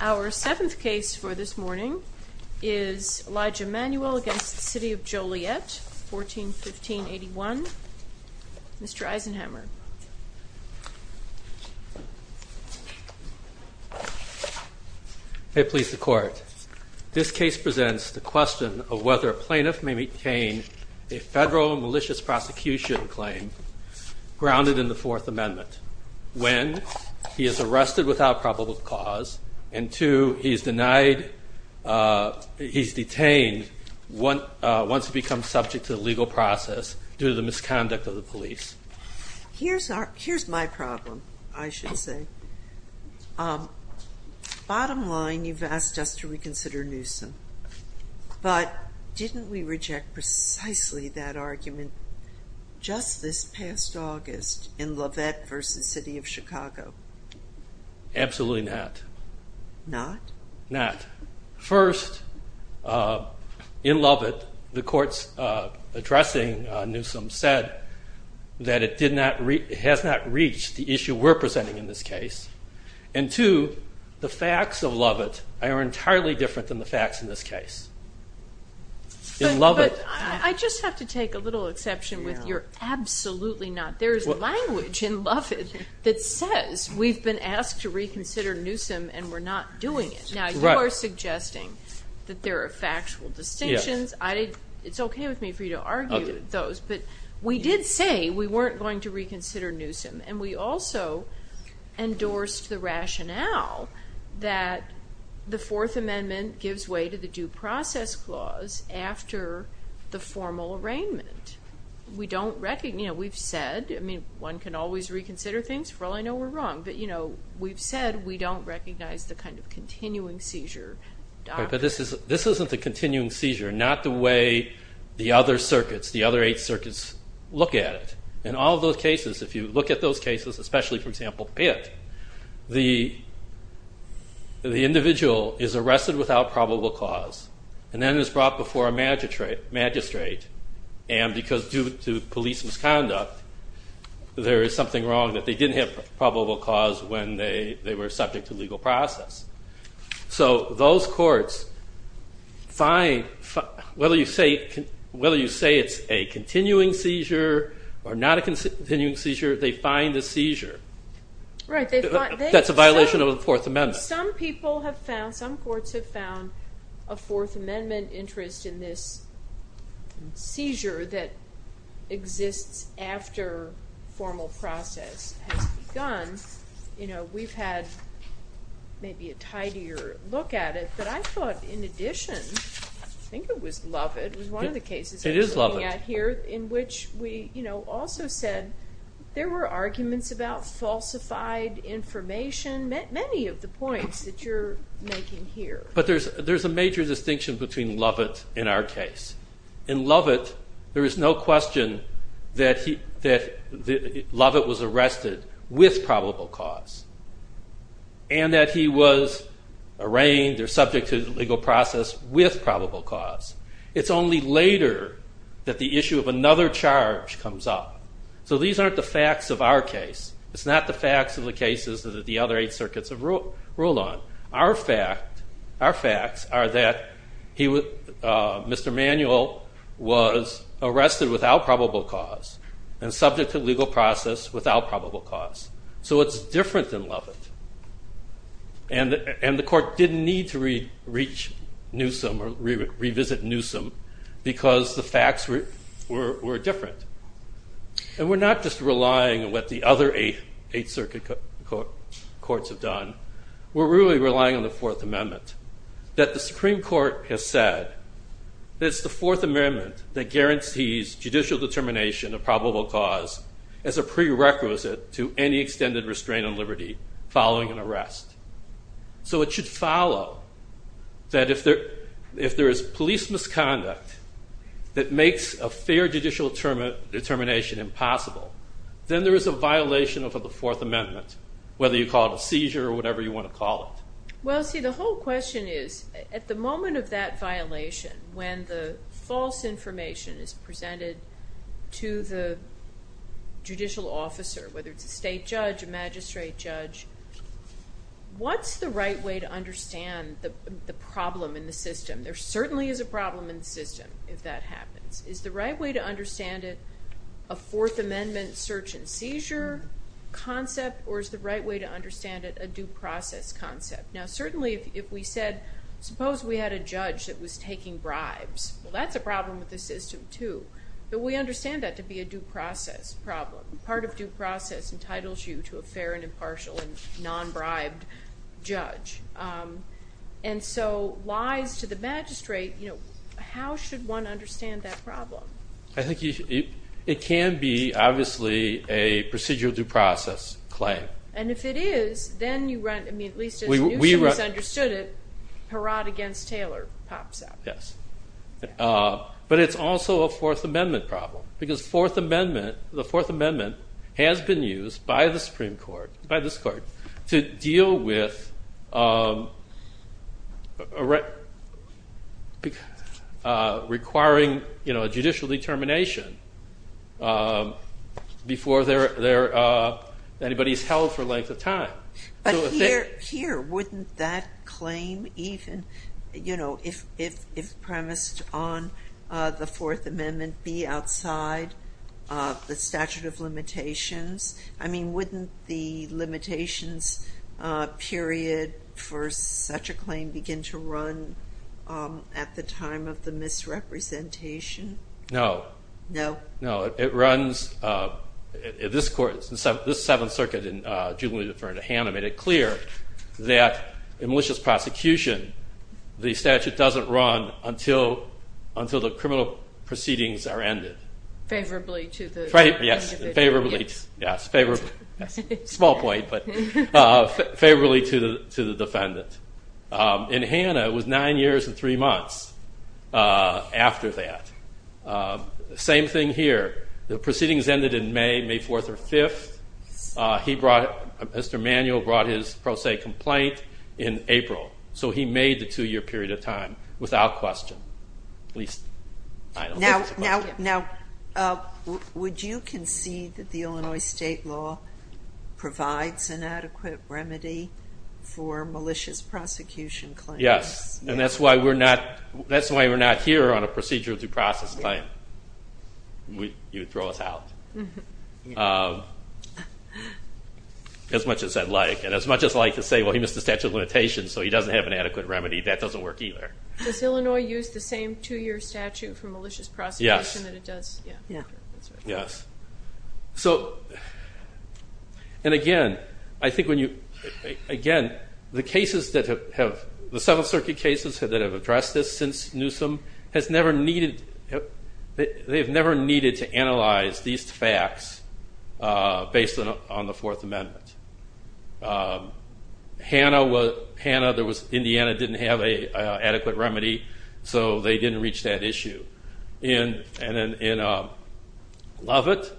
Our seventh case for this morning is Elijah Manuel v. City of Joliet, 1415-81. Mr. Eisenhammer. May it please the Court. This case presents the question of whether a plaintiff may maintain a federal malicious prosecution claim grounded in the Fourth Amendment when he is arrested without probable cause and two, he is detained once he becomes subject to the legal process due to the misconduct of the police. Here's my problem, I should say. Bottom line, you've asked us to reconsider Newsom, but didn't we reject precisely that argument just this past August in Lovett v. City of Chicago? Absolutely not. Not? Not. First, in Lovett, the courts addressing Newsom said that it has not reached the issue we're presenting in this case and two, the facts of Lovett are entirely different than the facts in this case. But I just have to take a little exception with your absolutely not. There is language in Lovett that says we've been asked to reconsider Newsom and we're not doing it. Now, you are suggesting that there are factual distinctions. It's okay with me for you to argue those, but we did say we weren't going to reconsider Newsom and we also endorsed the rationale that the Fourth Amendment gives way to the Due Process Clause after the formal arraignment. We've said one can always reconsider things, for all I know we're wrong, but we've said we don't recognize the kind of continuing seizure. But this isn't the continuing seizure, not the way the other circuits, the other eight circuits look at it. In all those cases, if you look at those cases, especially for example Pitt, the individual is arrested without probable cause and then is brought before a magistrate and because due to police misconduct, there is something wrong that they didn't have probable cause when they were subject to legal process. So those courts, whether you say it's a continuing seizure or not a continuing seizure, they find the seizure. That's a violation of the Fourth Amendment. Some people have found, some courts have found a Fourth Amendment interest in this seizure that exists after formal process has begun. We've had maybe a tidier look at it, but I thought in addition, I think it was Lovett, it was one of the cases I was looking at here, in which we also said there were arguments about falsified information, many of the points that you're making here. But there's a major distinction between Lovett and our case. In Lovett, there is no question that Lovett was arrested with probable cause and that he was arraigned or subject to legal process with probable cause. It's only later that the issue of another charge comes up. So these aren't the facts of our case. It's not the facts of the cases that the other eight circuits have ruled on. Our facts are that Mr. Manuel was arrested without probable cause and subject to legal process without probable cause. So it's different than Lovett. And the court didn't need to revisit Newsom because the facts were different. And we're not just relying on what the other eight circuit courts have done, we're really relying on the Fourth Amendment. That the Supreme Court has said that it's the Fourth Amendment that guarantees judicial determination of probable cause as a prerequisite to any extended restraint on liberty following an arrest. So it should follow that if there is police misconduct that makes a fair judicial determination impossible, then there is a violation of the Fourth Amendment, whether you call it a seizure or whatever you want to call it. Well, see, the whole question is, at the moment of that violation, when the false information is presented to the judicial officer, whether it's a state judge, a magistrate judge, what's the right way to understand the problem in the system? There certainly is a problem in the system if that happens. Is the right way to understand it a Fourth Amendment search and seizure concept, or is the right way to understand it a due process concept? Now certainly if we said, suppose we had a judge that was taking bribes, well that's a problem with the system too. But we understand that to be a due process problem. Part of due process entitles you to a fair and impartial and non-bribed judge. And so lies to the magistrate, how should one understand that problem? I think it can be, obviously, a procedural due process claim. And if it is, then you run, I mean, at least as you understood it, Perot against Taylor pops up. But it's also a Fourth Amendment problem. Because the Fourth Amendment has been used by the Supreme Court, by this court, to deal with requiring a judicial determination before anybody's held for a length of time. But here, wouldn't that claim even, you know, if premised on the Fourth Amendment, be outside the statute of limitations? I mean, wouldn't the limitations period for such a claim begin to run at the time of the misrepresentation? No. No? No, it runs, this court, this Seventh Circuit in Jubilee Deferred to Hannah made it clear that in malicious prosecution, the statute doesn't run until the criminal proceedings are ended. Favorably to the defendant. Yes, favorably. Yes, favorably. Small point, but favorably to the defendant. In Hannah, it was nine years and three months after that. Same thing here. The proceedings ended in May, May 4th or 5th. He brought, Mr. Emanuel brought his pro se complaint in April. So he made the two year period of time without question. Now, would you concede that the Illinois state law provides an adequate remedy for malicious prosecution claims? Yes, and that's why we're not here on a procedural due process claim. You would throw us out. As much as I'd like, and as much as I'd like to say, well, he missed the statute of limitations, so he doesn't have an adequate remedy, that doesn't work either. Does Illinois use the same two year statute for malicious prosecution that it does? Yes. Yes. So, and again, I think when you, again, the cases that have, the Seventh Circuit cases that have addressed this since Newsom has never needed, they have never needed to analyze these facts based on the Fourth Amendment. Hannah, there was, Indiana didn't have an adequate remedy, so they didn't reach that issue. And in Lovett,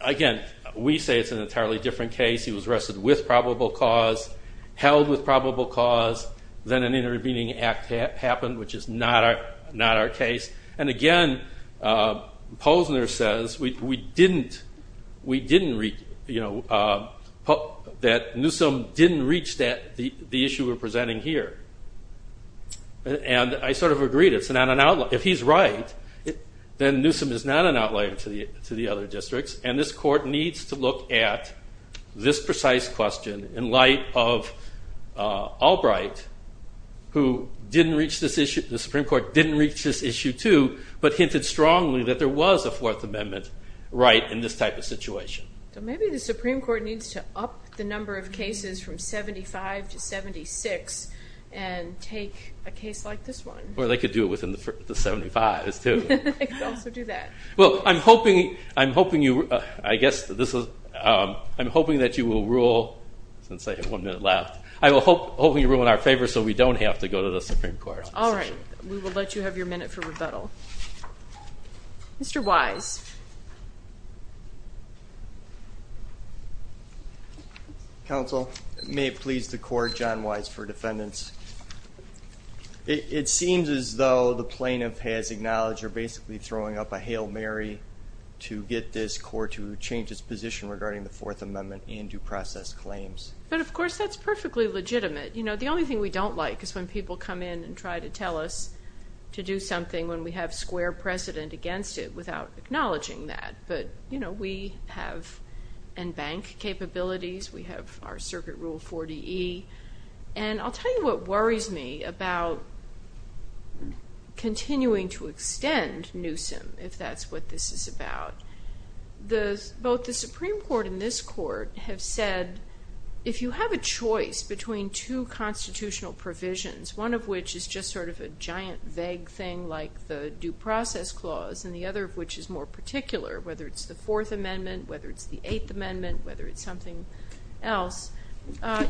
again, we say it's an entirely different case. He was arrested with probable cause, held with probable cause, then an intervening act happened, which is not our case. And again, Posner says we didn't, we didn't reach, you know, that Newsom didn't reach that, the issue we're presenting here. And I sort of agreed, it's not an outlier. If he's right, then Newsom is not an outlier to the other districts. And this Court needs to look at this precise question in light of Albright, who didn't reach this issue, the Supreme Court didn't reach this issue too, but hinted strongly that there was a Fourth Amendment right in this type of situation. So maybe the Supreme Court needs to up the number of cases from 75 to 76 and take a case like this one. Or they could do it within the 75s too. They could also do that. Well, I'm hoping, I'm hoping you, I guess this is, I'm hoping that you will rule, since I have one minute left, I'm hoping you'll rule in our favor so we don't have to go to the Supreme Court. All right, we will let you have your minute for rebuttal. Mr. Wise. Counsel, may it please the Court, John Wise for defendants. It seems as though the plaintiff has acknowledged you're basically throwing up a Hail Mary to get this Court to change its position regarding the Fourth Amendment and due process claims. But, of course, that's perfectly legitimate. You know, the only thing we don't like is when people come in and try to tell us to do something when we have square precedent against it without acknowledging that. But, you know, we have and bank capabilities. We have our Circuit Rule 40E. And I'll tell you what worries me about continuing to extend Newsom, if that's what this is about. Both the Supreme Court and this Court have said if you have a choice between two constitutional provisions, one of which is just sort of a giant vague thing like the due process clause and the other of which is more particular, whether it's the Fourth Amendment, whether it's the Eighth Amendment, whether it's something else,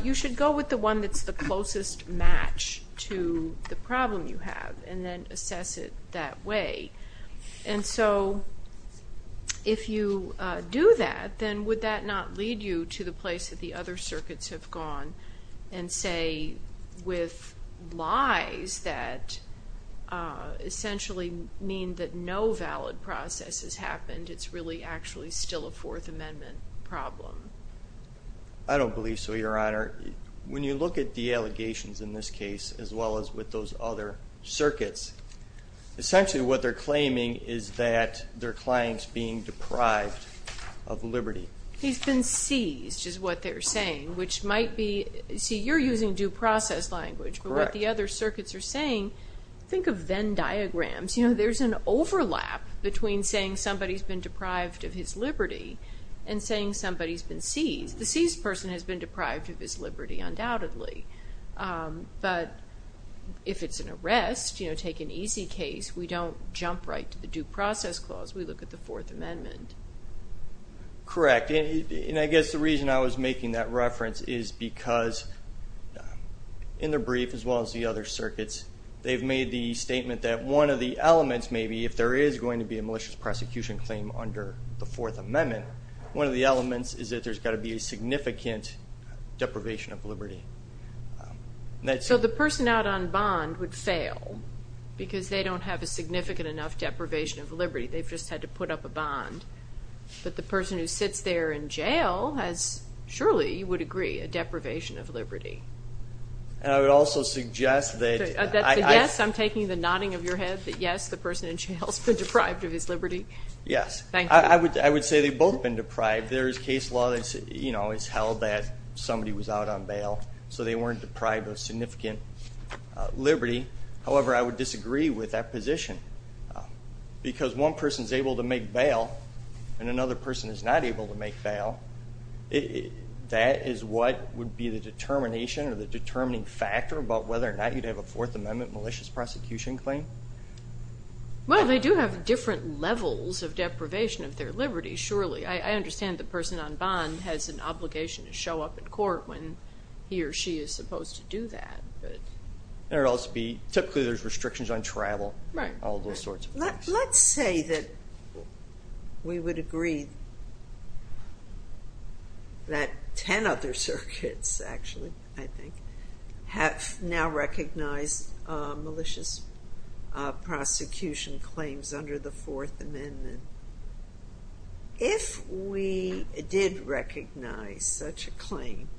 you should go with the one that's the closest match to the problem you have and then assess it that way. And so if you do that, then would that not lead you to the place that the other circuits have gone and say with lies that essentially mean that no valid process has happened, it's really actually still a Fourth Amendment problem? I don't believe so, Your Honor. When you look at the allegations in this case as well as with those other circuits, essentially what they're claiming is that their client's being deprived of liberty. He's been seized is what they're saying, which might be, see, you're using due process language. But what the other circuits are saying, think of Venn diagrams. You know, there's an overlap between saying somebody's been deprived of his liberty and saying somebody's been seized. The seized person has been deprived of his liberty undoubtedly. But if it's an arrest, you know, take an easy case, we don't jump right to the due process clause. We look at the Fourth Amendment. Correct. And I guess the reason I was making that reference is because in the brief as well as the other circuits, they've made the statement that one of the elements maybe, if there is going to be a malicious prosecution claim under the Fourth Amendment, one of the elements is that there's got to be a significant deprivation of liberty. So the person out on bond would fail because they don't have a significant enough deprivation of liberty. They've just had to put up a bond. But the person who sits there in jail has surely, you would agree, a deprivation of liberty. And I would also suggest that I'm taking the nodding of your head that, yes, the person in jail has been deprived of his liberty. Yes. Thank you. I would say they've both been deprived. There is case law that, you know, has held that somebody was out on bail, so they weren't deprived of significant liberty. However, I would disagree with that position because one person is able to make bail and another person is not able to make bail. That is what would be the determination or the determining factor about whether or not you'd have a Fourth Amendment malicious prosecution claim. Well, they do have different levels of deprivation of their liberty, surely. I understand the person on bond has an obligation to show up in court when he or she is supposed to do that. There would also be typically there's restrictions on travel. Right. All those sorts of things. Let's say that we would agree that ten other circuits actually, I think, have now recognized malicious prosecution claims under the Fourth Amendment. If we did recognize such a claim,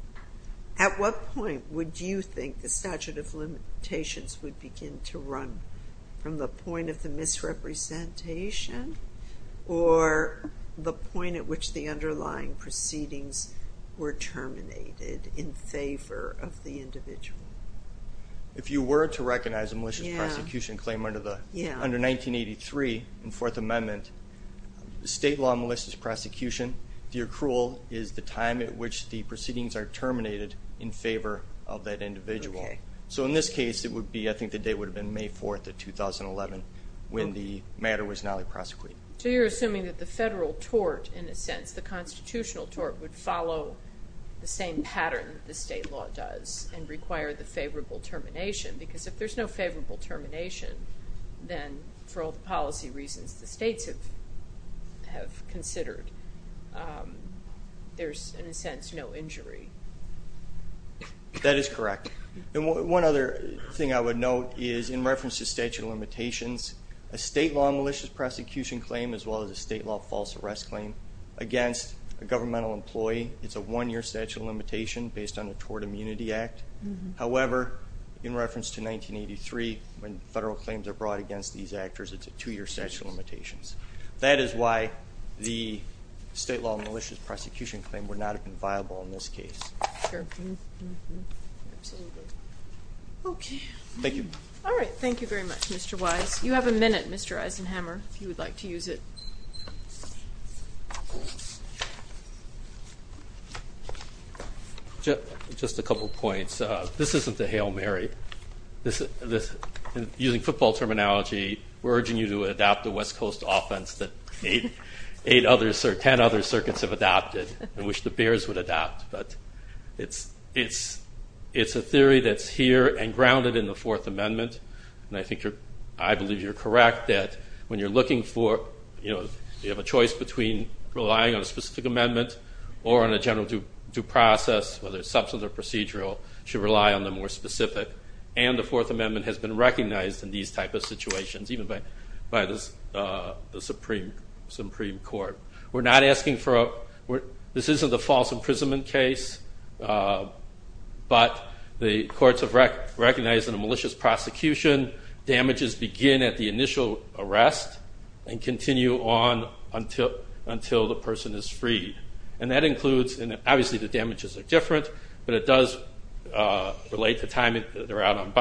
at what point would you think the statute of limitations would begin to run, from the point of the misrepresentation or the point at which the underlying proceedings were terminated in favor of the individual? If you were to recognize a malicious prosecution claim under 1983 in Fourth Amendment, state law malicious prosecution, the accrual is the time at which the proceedings are terminated in favor of that individual. Okay. So in this case, it would be, I think the date would have been May 4th of 2011 when the matter was not only prosecuted. So you're assuming that the federal tort, in a sense, the constitutional tort would follow the same pattern the state law does and require the favorable termination. Because if there's no favorable termination, then for all the policy reasons the states have considered, there's, in a sense, no injury. That is correct. One other thing I would note is in reference to statute of limitations, a state law malicious prosecution claim as well as a state law false arrest claim, against a governmental employee, it's a one-year statute of limitation based on the Tort Immunity Act. However, in reference to 1983, when federal claims are brought against these actors, it's a two-year statute of limitations. That is why the state law malicious prosecution claim would not have been viable in this case. Sure. Absolutely. Okay. Thank you. All right. Thank you very much, Mr. Wise. You have a minute, Mr. Eisenhammer, if you would like to use it. Just a couple points. This isn't the Hail Mary. Using football terminology, we're urging you to adopt the West Coast offense that ten other circuits have adopted and wish the Bears would adapt. But it's a theory that's here and grounded in the Fourth Amendment, and I believe you're correct that when you're looking for, you know, you have a choice between relying on a specific amendment or on a general due process, whether it's substantive or procedural, you should rely on the more specific. And the Fourth Amendment has been recognized in these type of situations, even by the Supreme Court. We're not asking for a – this isn't a false imprisonment case, but the courts have recognized in a malicious prosecution, damages begin at the initial arrest and continue on until the person is freed. And that includes – and obviously the damages are different, but it does relate to time they're out on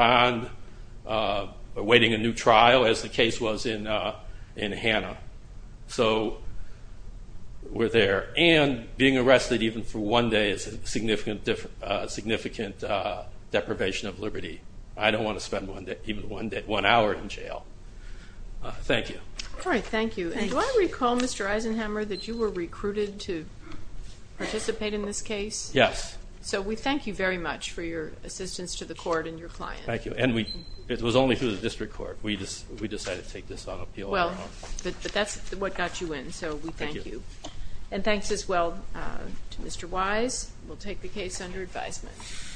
bond, awaiting a new trial, as the case was in Hanna. So we're there. And being arrested even for one day is a significant deprivation of liberty. I don't want to spend even one hour in jail. Thank you. All right, thank you. And do I recall, Mr. Eisenhammer, that you were recruited to participate in this case? Yes. So we thank you very much for your assistance to the court and your client. Thank you. And it was only through the district court we decided to take this on appeal. Well, but that's what got you in, so we thank you. And thanks as well to Mr. Wise. We'll take the case under advisement.